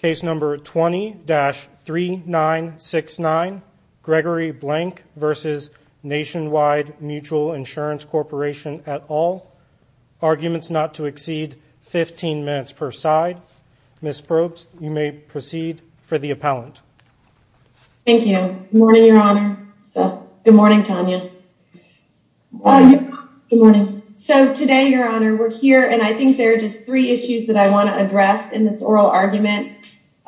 Case number 20-3969, Gregory Blank v. Nationwide Mutual Insurance Corporation et al. Arguments not to exceed 15 minutes per side. Ms. Probst, you may proceed for the appellant. Thank you. Good morning, Your Honor. Good morning, Tanya. Good morning. So today, Your Honor, we're here and I think there are just three issues that I want to address in this oral argument.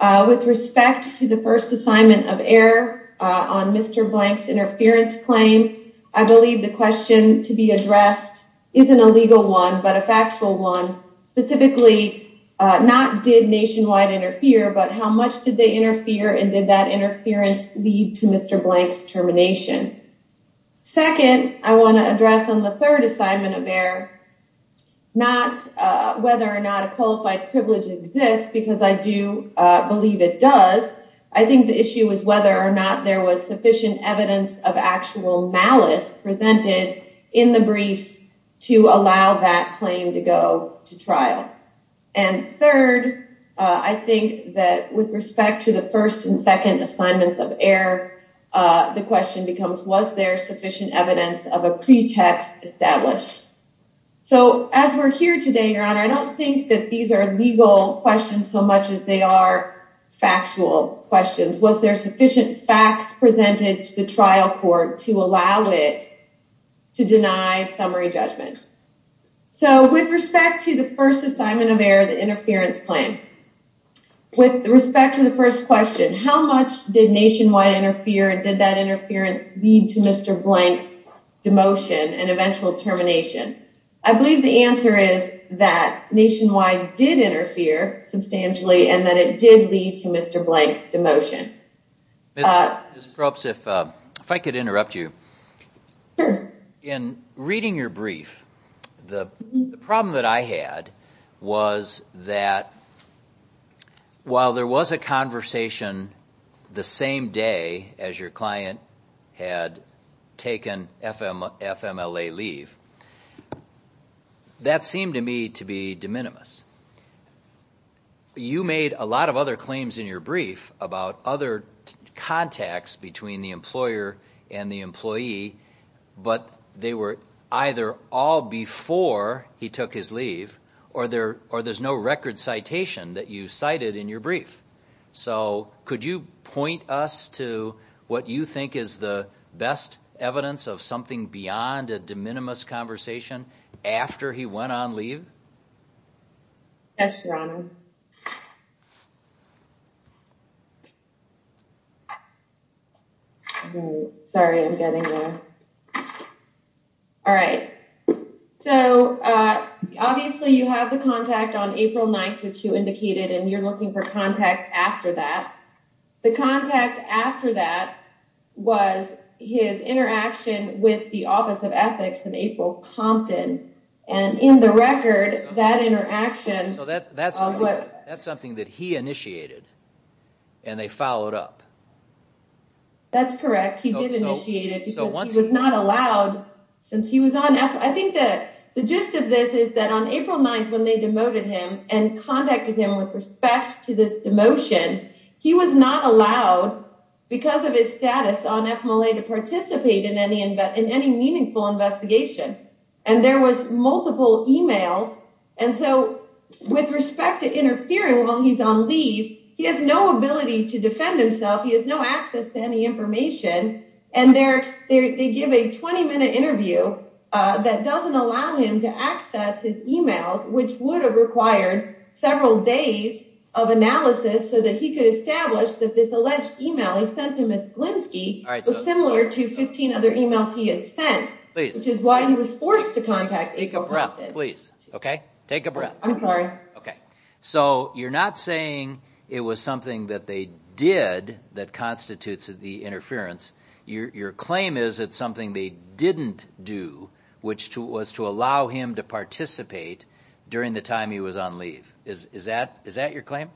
With respect to the first assignment of error on Mr. Blank's interference claim, I believe the question to be addressed isn't a legal one, but a factual one. Specifically, not did Nationwide interfere, but how much did they interfere and did that interference lead to Mr. Blank's termination? Second, I want to address on the third assignment of error, not whether or not a qualified privilege exists, because I do believe it does. I think the issue is whether or not there was sufficient evidence of actual malice presented in the briefs to allow that claim to go to trial. And third, I think that with respect to the first and second assignments of error, the question becomes, was there sufficient evidence of a pretext established? So as we're here today, Your Honor, I don't think that these are legal questions so much as they are factual questions. Was there sufficient facts presented to the trial court to allow it to deny summary judgment? So with respect to the first assignment of error, the interference claim, with respect to the first question, how much did Nationwide interfere and did that interference lead to Mr. Blank's demotion and eventual termination? I believe the answer is that Nationwide did interfere substantially and that it did lead to Mr. Blank's demotion. Ms. Probst, if I could interrupt you. In reading your brief, the problem that I had was that while there was a conversation the same day as your client had taken FMLA leave, that seemed to me to be de minimis. You made a lot of other claims in your brief about other contacts between the employer and the employee, but they were either all before he took his leave or there's no record citation that you cited in your brief. So could you point us to what you think is the best evidence of something beyond a de minimis conversation after he went on leave? Yes, Your Honor. Sorry, I'm getting there. All right, so obviously you have the contact on April 9th, which you indicated, and you're looking for contact after that. The contact after that was his interaction with the Office of Ethics in April Compton, and in the record, that interaction... That's something that he initiated and they followed up. That's correct. He did initiate it because he was not allowed since he was on FMLA. I think the gist of this is that on April 9th when they demoted him and contacted him with respect to this demotion, he was not allowed because of his status on FMLA to participate in any meaningful investigation, and there was multiple emails. And so with respect to interfering while he's on leave, he has no ability to defend himself. He has no access to any information, and they give a 20-minute interview that doesn't allow him to access his emails, which would have required several days of analysis so that he could establish that this alleged email he sent to Ms. Glinsky was similar to 15 other emails he had sent, which is why he was forced to contact April Compton. Please, okay? Take a breath. I'm sorry. Okay. So you're not saying it was something that they did that constitutes the interference. Your claim is it's something they didn't do, which was to allow him to participate during the time he was on leave. Is that your claim?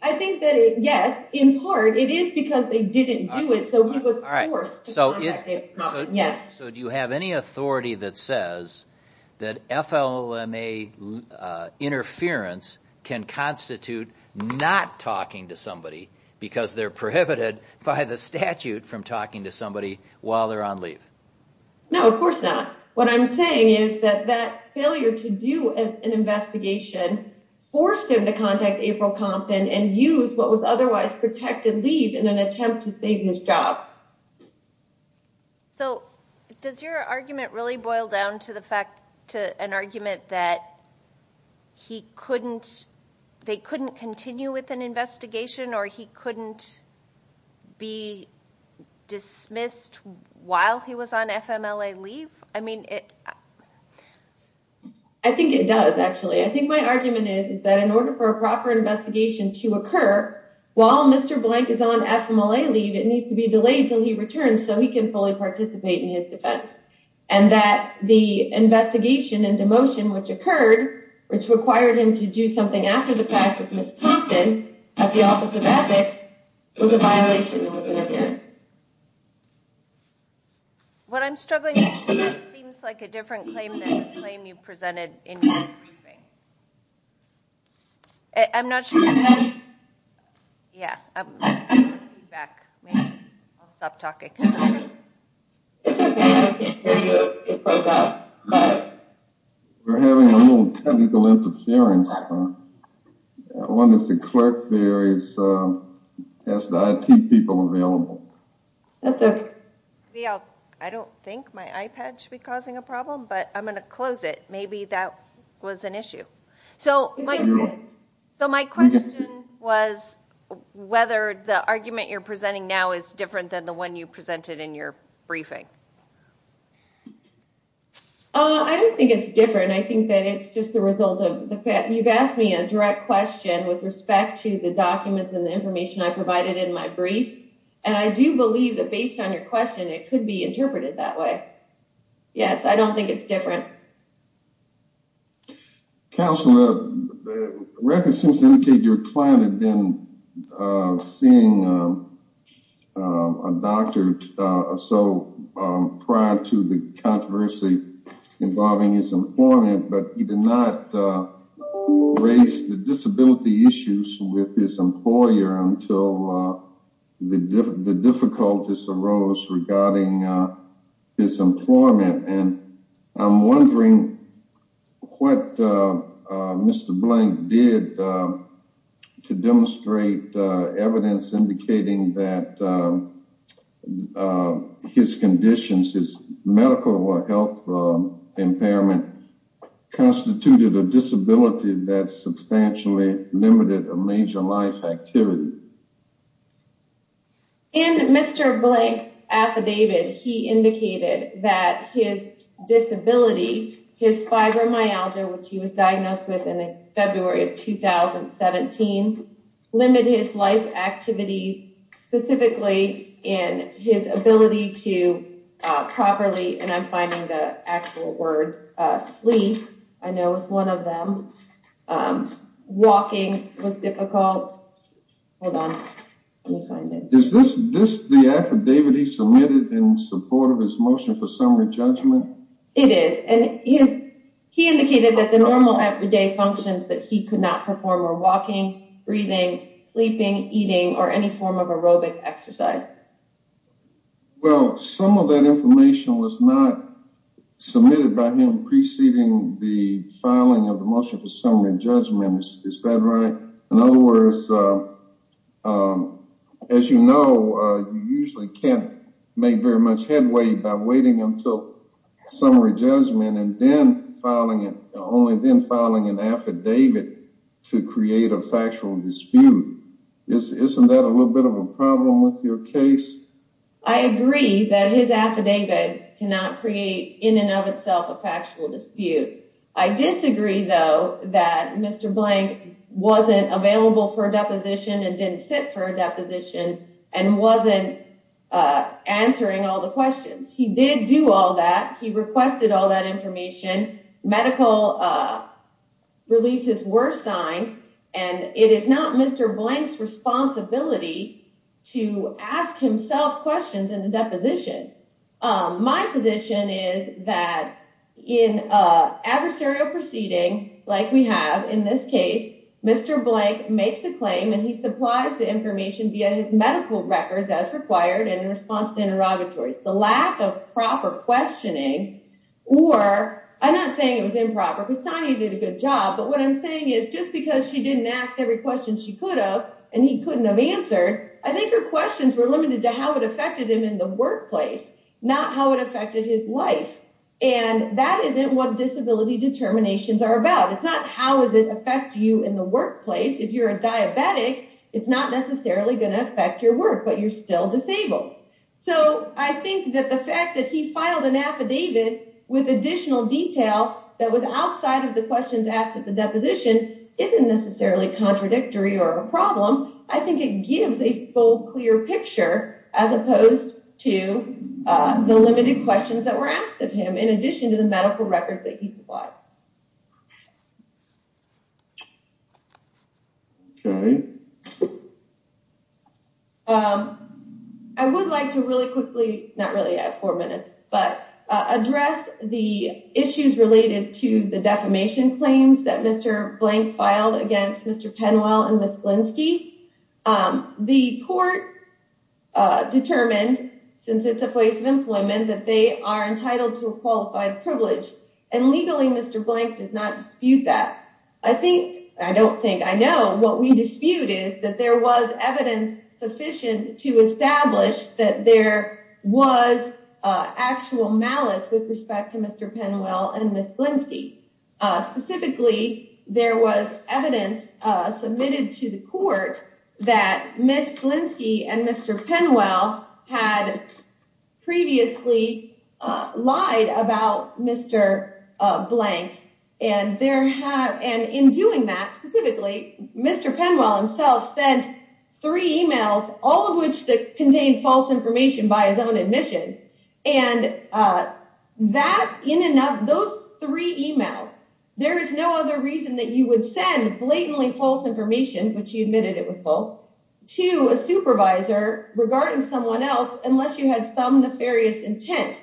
I think that, yes, in part it is because they didn't do it, so he was forced to contact April Compton, yes. So do you have any authority that says that FLMA interference can constitute not talking to somebody because they're prohibited by the statute from talking to somebody while they're on leave? No, of course not. What I'm saying is that that failure to do an investigation forced him to contact April Compton and use what was otherwise protected leave in an attempt to save his job. So does your argument really boil down to an argument that they couldn't continue with an investigation or he couldn't be dismissed while he was on FMLA leave? I think it does, actually. I think my argument is that in order for a proper investigation to occur, while Mr. Blank is on FMLA leave, it needs to be delayed until he returns so he can fully participate in his defense and that the investigation and demotion which occurred, which required him to do something after the fact with Ms. Compton at the Office of Ethics, was a violation of his interference. What I'm struggling with seems like a different claim than the claim you presented in your briefing. I'm not sure... We're having a little technical interference. I wonder if the clerk there has the IT people available. I don't think my iPad should be causing a problem, but I'm going to close it. Maybe that was an issue. So my question was whether the argument you're presenting now is different than the one you presented in your briefing. I don't think it's different. I think that it's just the result of the fact... You've asked me a direct question with respect to the documents and the information I provided in my brief, and I do believe that based on your question, it could be interpreted that way. Yes, I don't think it's different. Counselor, the record seems to indicate your client had been seeing a doctor or so prior to the controversy involving his employment, but he did not raise the disability issues with his employer until the difficulties arose regarding his employment. And I'm wondering what Mr. Blank did to demonstrate evidence indicating that his conditions, his medical or health impairment, constituted a disability that substantially limited a major life activity. In Mr. Blank's affidavit, he indicated that his disability, his fibromyalgia, which he was diagnosed with in February of 2017, limited his life activities specifically in his ability to properly, and I'm finding the actual words, sleep. I know it's one of them. Walking was difficult. Hold on. Is this the affidavit he submitted in support of his motion for summary judgment? It is. He indicated that the normal everyday functions that he could not perform were walking, breathing, sleeping, eating, or any form of aerobic exercise. Well, some of that information was not submitted by him preceding the filing of the motion for summary judgment. Is that right? In other words, as you know, you usually can't make very much headway by waiting until summary judgment and only then filing an affidavit to create a factual dispute. Isn't that a little bit of a problem with your case? I agree that his affidavit cannot create, in and of itself, a factual dispute. I disagree, though, that Mr. Blank wasn't available for a deposition and didn't sit for a deposition and wasn't answering all the questions. He did do all that. He requested all that information. Medical releases were signed, and it is not Mr. Blank's responsibility to ask himself questions in the deposition. My position is that in an adversarial proceeding like we have in this case, Mr. Blank makes a claim and he supplies the information via his medical records as required in response to interrogatories. The lack of proper questioning or—I'm not saying it was improper because Tanya did a good job, but what I'm saying is just because she didn't ask every question she could have and he couldn't have answered, I think her questions were limited to how it affected him in the workplace, not how it affected his life. And that isn't what disability determinations are about. It's not how does it affect you in the workplace. If you're a diabetic, it's not necessarily going to affect your work, but you're still disabled. So I think that the fact that he filed an affidavit with additional detail that was outside of the questions asked at the deposition isn't necessarily contradictory or a problem. I think it gives a full, clear picture as opposed to the limited questions that were asked of him, in addition to the medical records that he supplied. I would like to really quickly—not really, I have four minutes—but address the issues related to the defamation claims that Mr. Blank filed against Mr. Penwell and Ms. Glinsky. The court determined, since it's a place of employment, that they are entitled to a qualified privilege, and legally Mr. Blank does not dispute that. I think—I don't think, I know—what we dispute is that there was evidence sufficient to establish that there was actual malice with respect to Mr. Penwell and Ms. Glinsky. Specifically, there was evidence submitted to the court that Ms. Glinsky and Mr. Penwell had previously lied about Mr. Blank. And in doing that, specifically, Mr. Penwell himself sent three emails, all of which contained false information by his own admission. And that—in and of those three emails, there is no other reason that you would send blatantly false information, which he admitted it was false, to a supervisor regarding someone else unless you had some nefarious intent.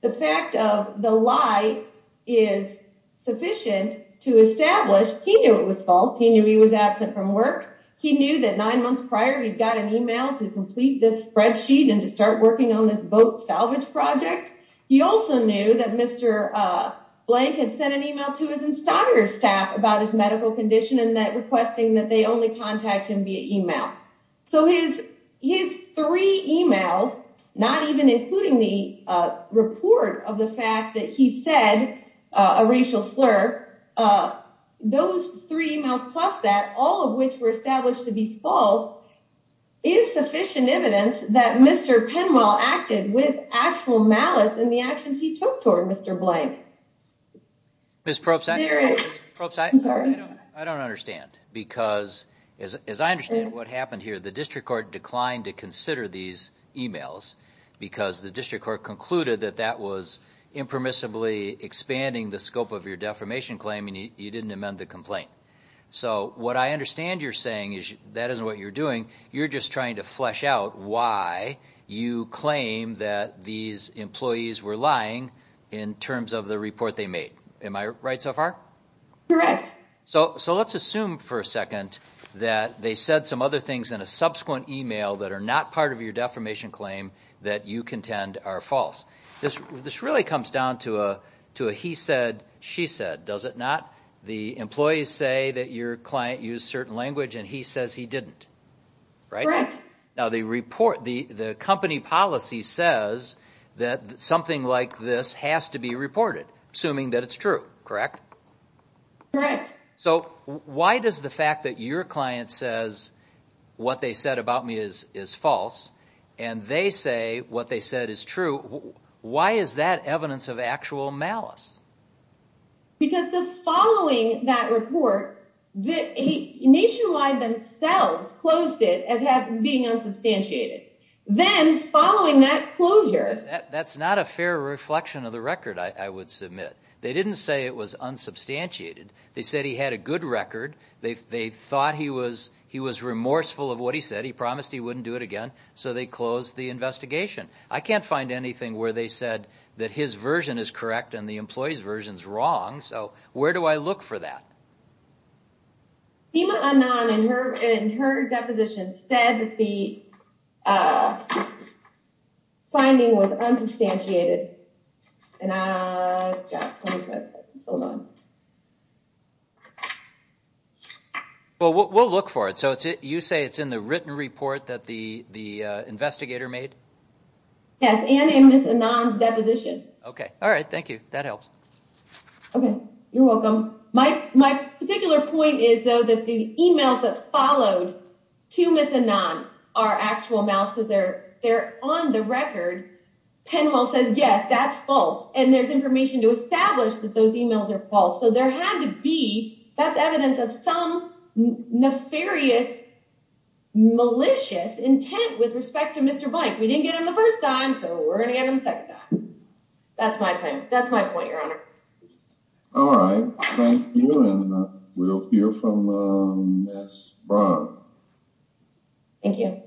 The fact of the lie is sufficient to establish he knew it was false, he knew he was absent from work, he knew that nine months prior he'd got an email to complete this spreadsheet and to start working on this boat salvage project. He also knew that Mr. Blank had sent an email to his installer's staff about his medical condition and that—requesting that they only contact him via email. So his three emails, not even including the report of the fact that he said a racial slur, those three emails plus that, all of which were established to be false, is sufficient evidence that Mr. Penwell acted with actual malice in the actions he took toward Mr. Blank. Ms. Probst, I don't understand because, as I understand what happened here, the district court declined to consider these emails because the district court concluded that that was impermissibly expanding the scope of your defamation claim and you didn't amend the complaint. So what I understand you're saying is that isn't what you're doing, you're just trying to flesh out why you claim that these employees were lying in terms of the report they made. Am I right so far? Correct. So let's assume for a second that they said some other things in a subsequent email that are not part of your defamation claim that you contend are false. This really comes down to a he said, she said, does it not? The employees say that your client used certain language and he says he didn't, right? Correct. Now the company policy says that something like this has to be reported, assuming that it's true, correct? Correct. So why does the fact that your client says what they said about me is false and they say what they said is true, why is that evidence of actual malice? Because following that report, Nationwide themselves closed it as being unsubstantiated. Then following that closure... That's not a fair reflection of the record I would submit. They didn't say it was unsubstantiated, they said he had a good record, they thought he was remorseful of what he said, he promised he wouldn't do it again, so they closed the investigation. I can't find anything where they said that his version is correct and the employee's version is wrong, so where do I look for that? Seema Anand, in her deposition, said that the finding was unsubstantiated. Well, we'll look for it, so you say it's in the written report that the investigator made? Yes, and in Ms. Anand's deposition. Okay, alright, thank you, that helps. Okay, you're welcome. My particular point is, though, that the emails that followed to Ms. Anand are actual malice because they're on the record. Penwell says, yes, that's false, and there's information to establish that those emails are false, so there had to be, that's evidence of some nefarious, malicious intent with respect to Mr. Blank. We didn't get him the first time, so we're going to get him the second time. That's my point, that's my point, Your Honor. Alright, thank you, and we'll hear from Ms. Braun. Thank you.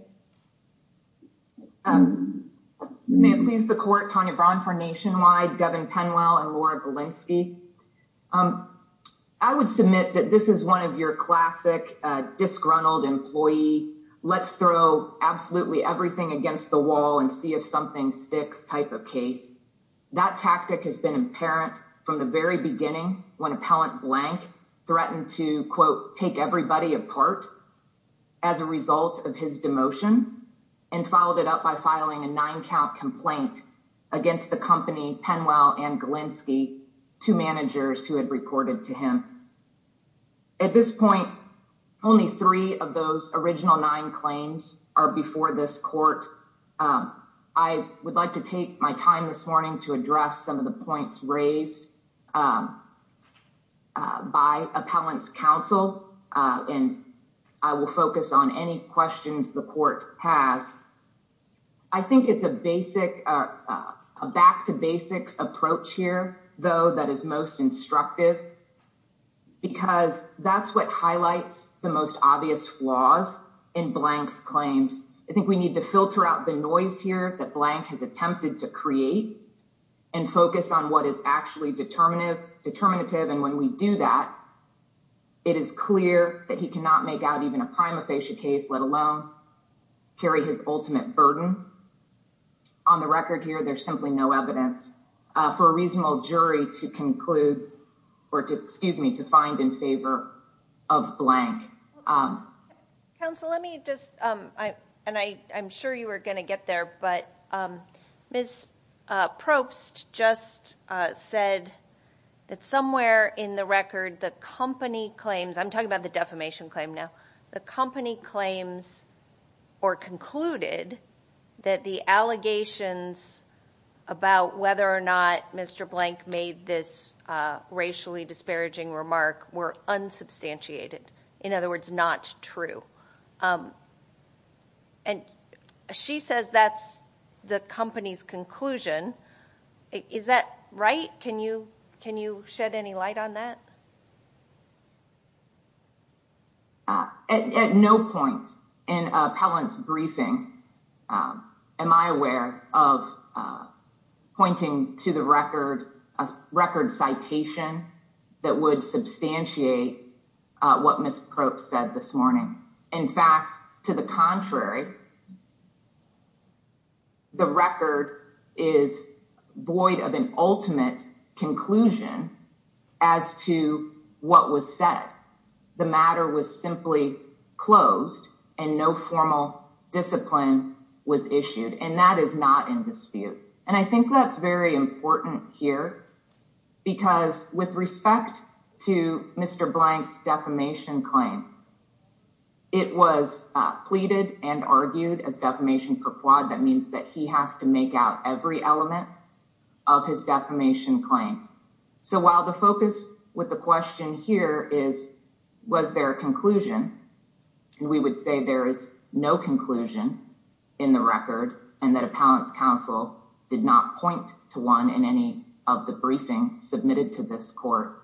May it please the Court, Tanya Braun for Nationwide, Devin Penwell, and Laura Belinsky. I would submit that this is one of your classic disgruntled employee, let's throw absolutely everything against the wall and see if something sticks type of case. That tactic has been apparent from the very beginning when Appellant Blank threatened to, quote, take everybody apart as a result of his demotion, and followed it up by filing a nine count complaint against the company Penwell and Belinsky, two managers who had reported to him. At this point, only three of those original nine claims are before this court. I would like to take my time this morning to address some of the points raised by Appellant's counsel, and I will focus on any questions the court has. I think it's a back to basics approach here, though, that is most instructive, because that's what highlights the most obvious flaws in Blank's claims. I think we need to filter out the noise here that Blank has attempted to create and focus on what is actually determinative, and when we do that, it is clear that he cannot make out even a prima facie case, let alone carry his ultimate burden. On the record here, there's simply no evidence for a reasonable jury to conclude, or to, excuse me, to find in favor of Blank. Counsel, let me just, and I'm sure you were going to get there, but Ms. Probst just said that somewhere in the record, the company claims, I'm talking about the defamation claim now, the company claims or concluded that the allegations about whether or not Mr. Blank made this racially disparaging remark were unsubstantiated. In other words, not true. And she says that's the company's conclusion. Is that right? Can you shed any light on that? At no point in Appellant's briefing am I aware of pointing to the record, a record citation that would substantiate what Ms. Probst said this morning. In fact, to the contrary, the record is void of an ultimate conclusion as to what was said. The matter was simply closed and no formal discipline was issued, and that is not in dispute. And I think that's very important here, because with respect to Mr. Blank's defamation claim, it was pleaded and argued as defamation per quod. That means that he has to make out every element of his defamation claim. So while the focus with the question here is, was there a conclusion? And we would say there is no conclusion in the record and that Appellant's counsel did not point to one in any of the briefing submitted to this court.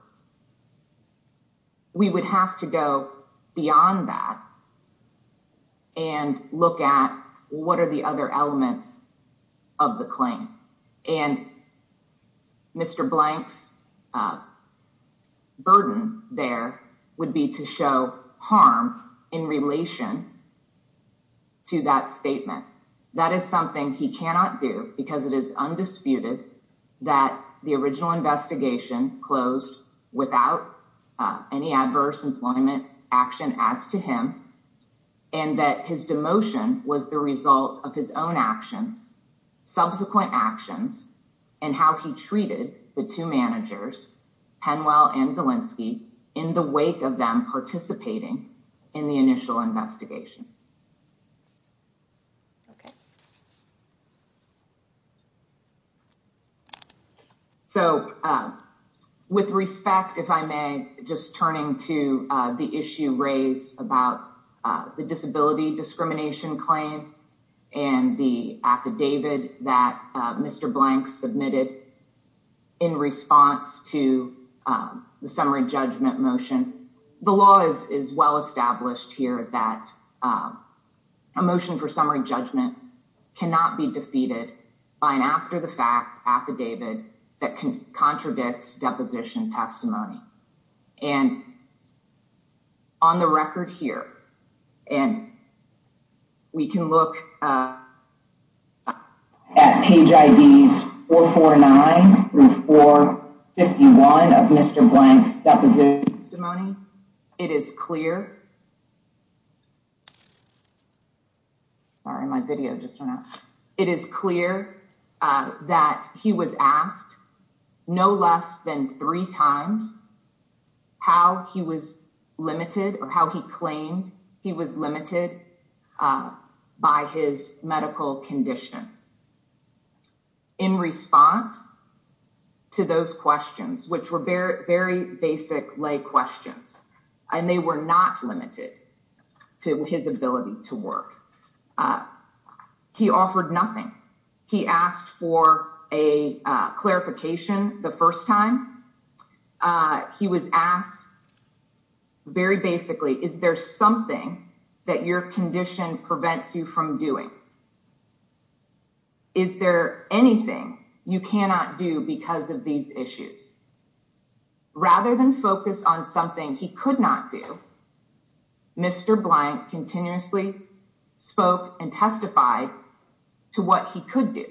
We would have to go beyond that. And look at what are the other elements of the claim. And Mr. Blank's burden there would be to show harm in relation to that statement. That is something he cannot do because it is undisputed that the original investigation closed without any adverse employment action as to him. And that his demotion was the result of his own actions, subsequent actions, and how he treated the two managers, Penwell and Galinsky, in the wake of them participating in the initial investigation. OK. So with respect, if I may, just turning to the issue raised about the disability discrimination claim and the affidavit that Mr. Blank submitted in response to the summary judgment motion. And the law is well established here that a motion for summary judgment cannot be defeated by an after the fact affidavit that contradicts deposition testimony. And on the record here, and we can look at page IVs 449 through 451 of Mr. Blank's deposition testimony. It is clear. Sorry, my video just went out. And they were not limited to his ability to work. He offered nothing. He asked for a clarification the first time he was asked. Very basically, is there something that your condition prevents you from doing? Is there anything you cannot do because of these issues? Rather than focus on something he could not do. Mr. Blank continuously spoke and testified to what he could do.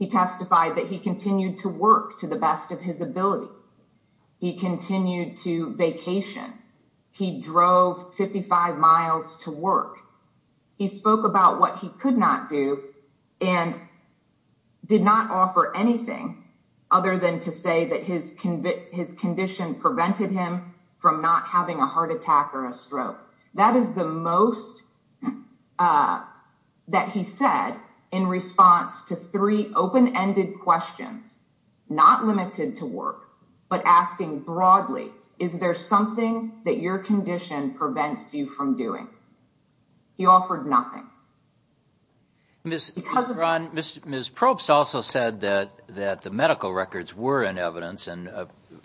He testified that he continued to work to the best of his ability. He continued to vacation. He drove 55 miles to work. He spoke about what he could not do and did not offer anything other than to say that his condition prevented him from not having a heart attack or a stroke. That is the most that he said in response to three open-ended questions, not limited to work, but asking broadly, is there something that your condition prevents you from doing? He offered nothing. Ms. Probst also said that the medical records were in evidence. And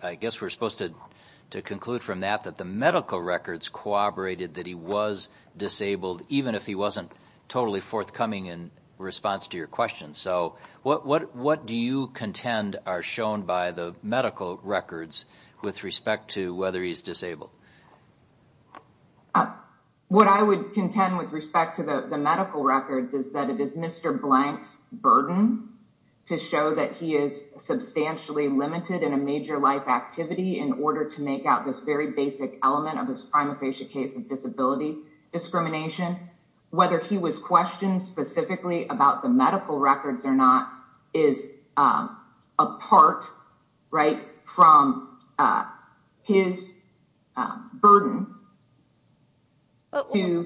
I guess we're supposed to conclude from that that the medical records corroborated that he was disabled, even if he wasn't totally forthcoming in response to your question. So what do you contend are shown by the medical records with respect to whether he's disabled? What I would contend with respect to the medical records is that it is Mr. Blank's burden to show that he is substantially limited in a major life activity in order to make out this very basic element of this prima facie case of disability discrimination. Whether he was questioned specifically about the medical records or not is apart from his burden. Following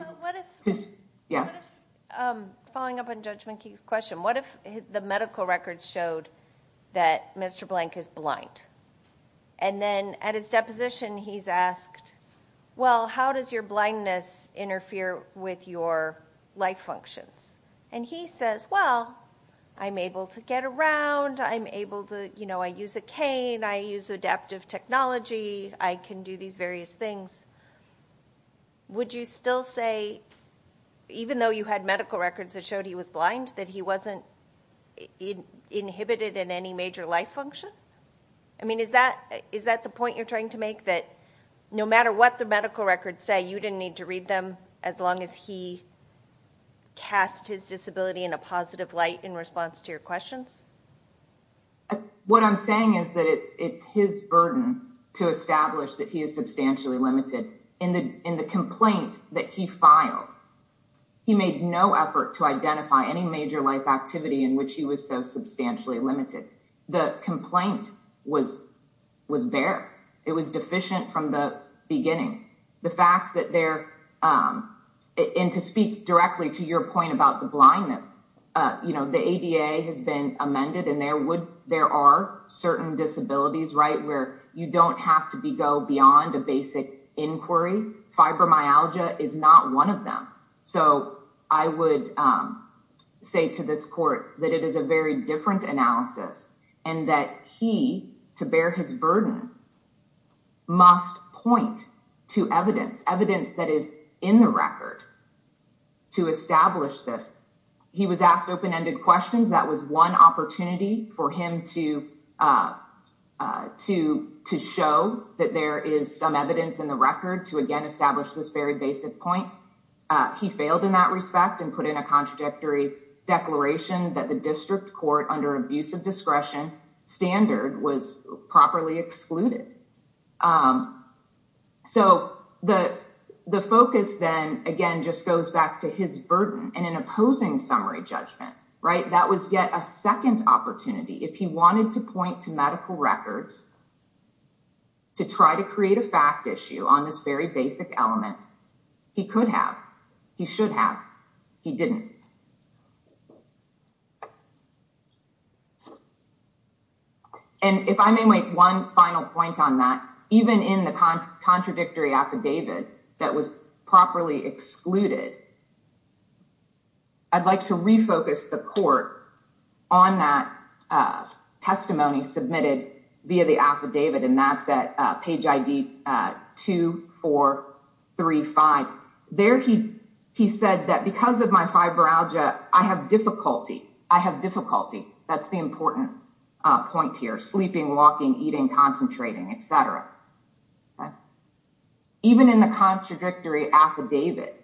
up on Judge McKee's question, what if the medical records showed that Mr. Blank is blind? And then at his deposition, he's asked, well, how does your blindness interfere with your life functions? And he says, well, I'm able to get around. I'm able to, you know, I use a cane. I use adaptive technology. I can do these various things. Would you still say, even though you had medical records that showed he was blind, that he wasn't inhibited in any major life function? I mean, is that the point you're trying to make? That no matter what the medical records say, you didn't need to read them as long as he cast his disability in a positive light in response to your questions? What I'm saying is that it's his burden to establish that he is substantially limited. In the complaint that he filed, he made no effort to identify any major life activity in which he was so substantially limited. The complaint was there. And to speak directly to your point about the blindness, you know, the ADA has been amended and there are certain disabilities, right, where you don't have to go beyond a basic inquiry. Fibromyalgia is not one of them. So I would say to this court that it is a very different analysis and that he, to bear his burden, must point to evidence, evidence that is in the record to establish this. He was asked open-ended questions. That was one opportunity for him to show that there is some evidence in the record to again establish this very basic point. He failed in that respect and put in a contradictory declaration that the district court under abusive discretion standard was properly excluded. So the focus then, again, just goes back to his burden and an opposing summary judgment, right? If he wanted to point to medical records to try to create a fact issue on this very basic element, he could have. He should have. He didn't. And if I may make one final point on that, even in the contradictory affidavit that was properly excluded, I'd like to refocus the court on that testimony submitted via the affidavit. And that's at page ID 2435. There he said that because of my fibroalgia, I have difficulty. I have difficulty. That's the important point here. Sleeping, walking, eating, concentrating, et cetera. Even in the contradictory affidavit,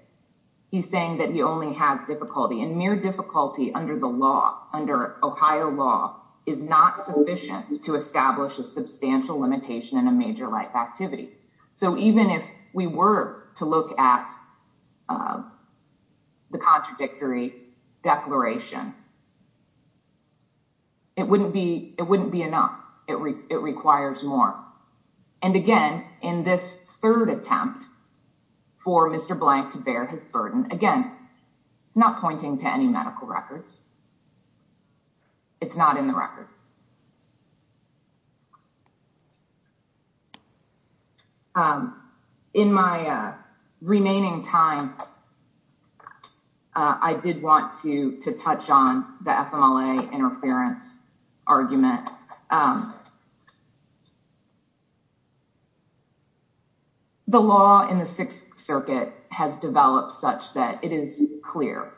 he's saying that he only has difficulty. And mere difficulty under the law, under Ohio law, is not sufficient to establish a substantial limitation in a major life activity. So even if we were to look at the contradictory declaration, it wouldn't be it wouldn't be enough. It requires more. And again, in this third attempt for Mr. Blank to bear his burden again, it's not pointing to any medical records. It's not in the record. In my remaining time, I did want to touch on the FMLA interference argument. The law in the Sixth Circuit has developed such that it is clear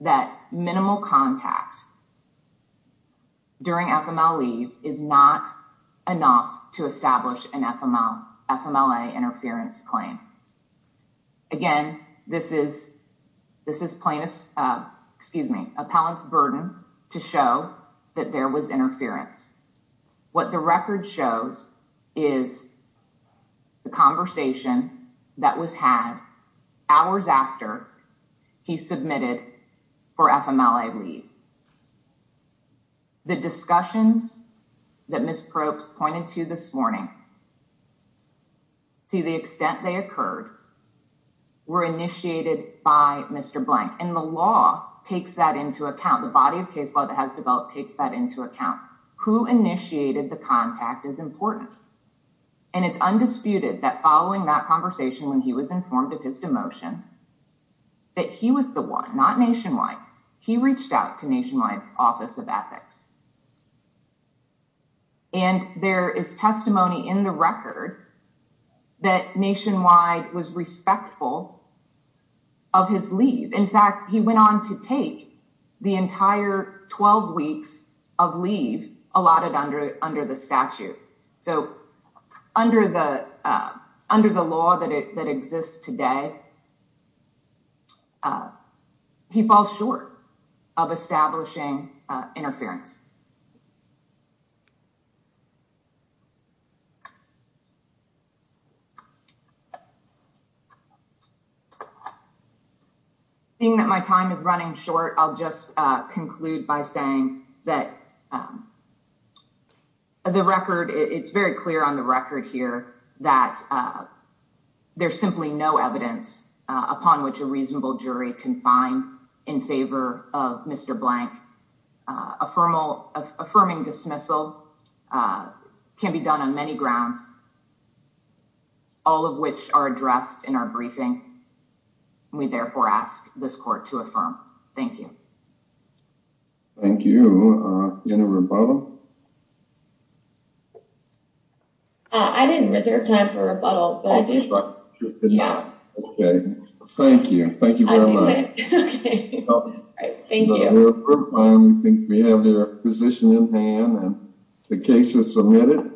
that minimal contact during FMLA is not enough to establish an FMLA interference claim. Again, this is plaintiff's, excuse me, appellant's burden to show that there was interference. What the record shows is the conversation that was had hours after he submitted for FMLA leave. The discussions that Ms. Probst pointed to this morning, to the extent they occurred, were initiated by Mr. Blank. And the law takes that into account. The body of case law that has developed takes that into account. Who initiated the contact is important. And it's undisputed that following that conversation when he was informed of his demotion that he was the one, not Nationwide. He reached out to Nationwide's Office of Ethics. And there is testimony in the record that Nationwide was respectful of his leave. In fact, he went on to take the entire 12 weeks of leave allotted under the statute. So under the under the law that exists today. He falls short of establishing interference. Seeing that my time is running short, I'll just conclude by saying that the record, it's very clear on the record here that there's simply no evidence upon which a reasonable jury can find in favor of Mr. Blank. Affirming dismissal can be done on many grounds, all of which are addressed in our briefing. We therefore ask this court to affirm. Thank you. Thank you. Any rebuttal? I didn't reserve time for rebuttal. Thank you. Thank you very much. Thank you. I think we have the position in hand and the case is submitted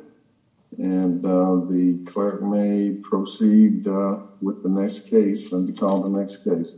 and the clerk may proceed with the next case and call the next case.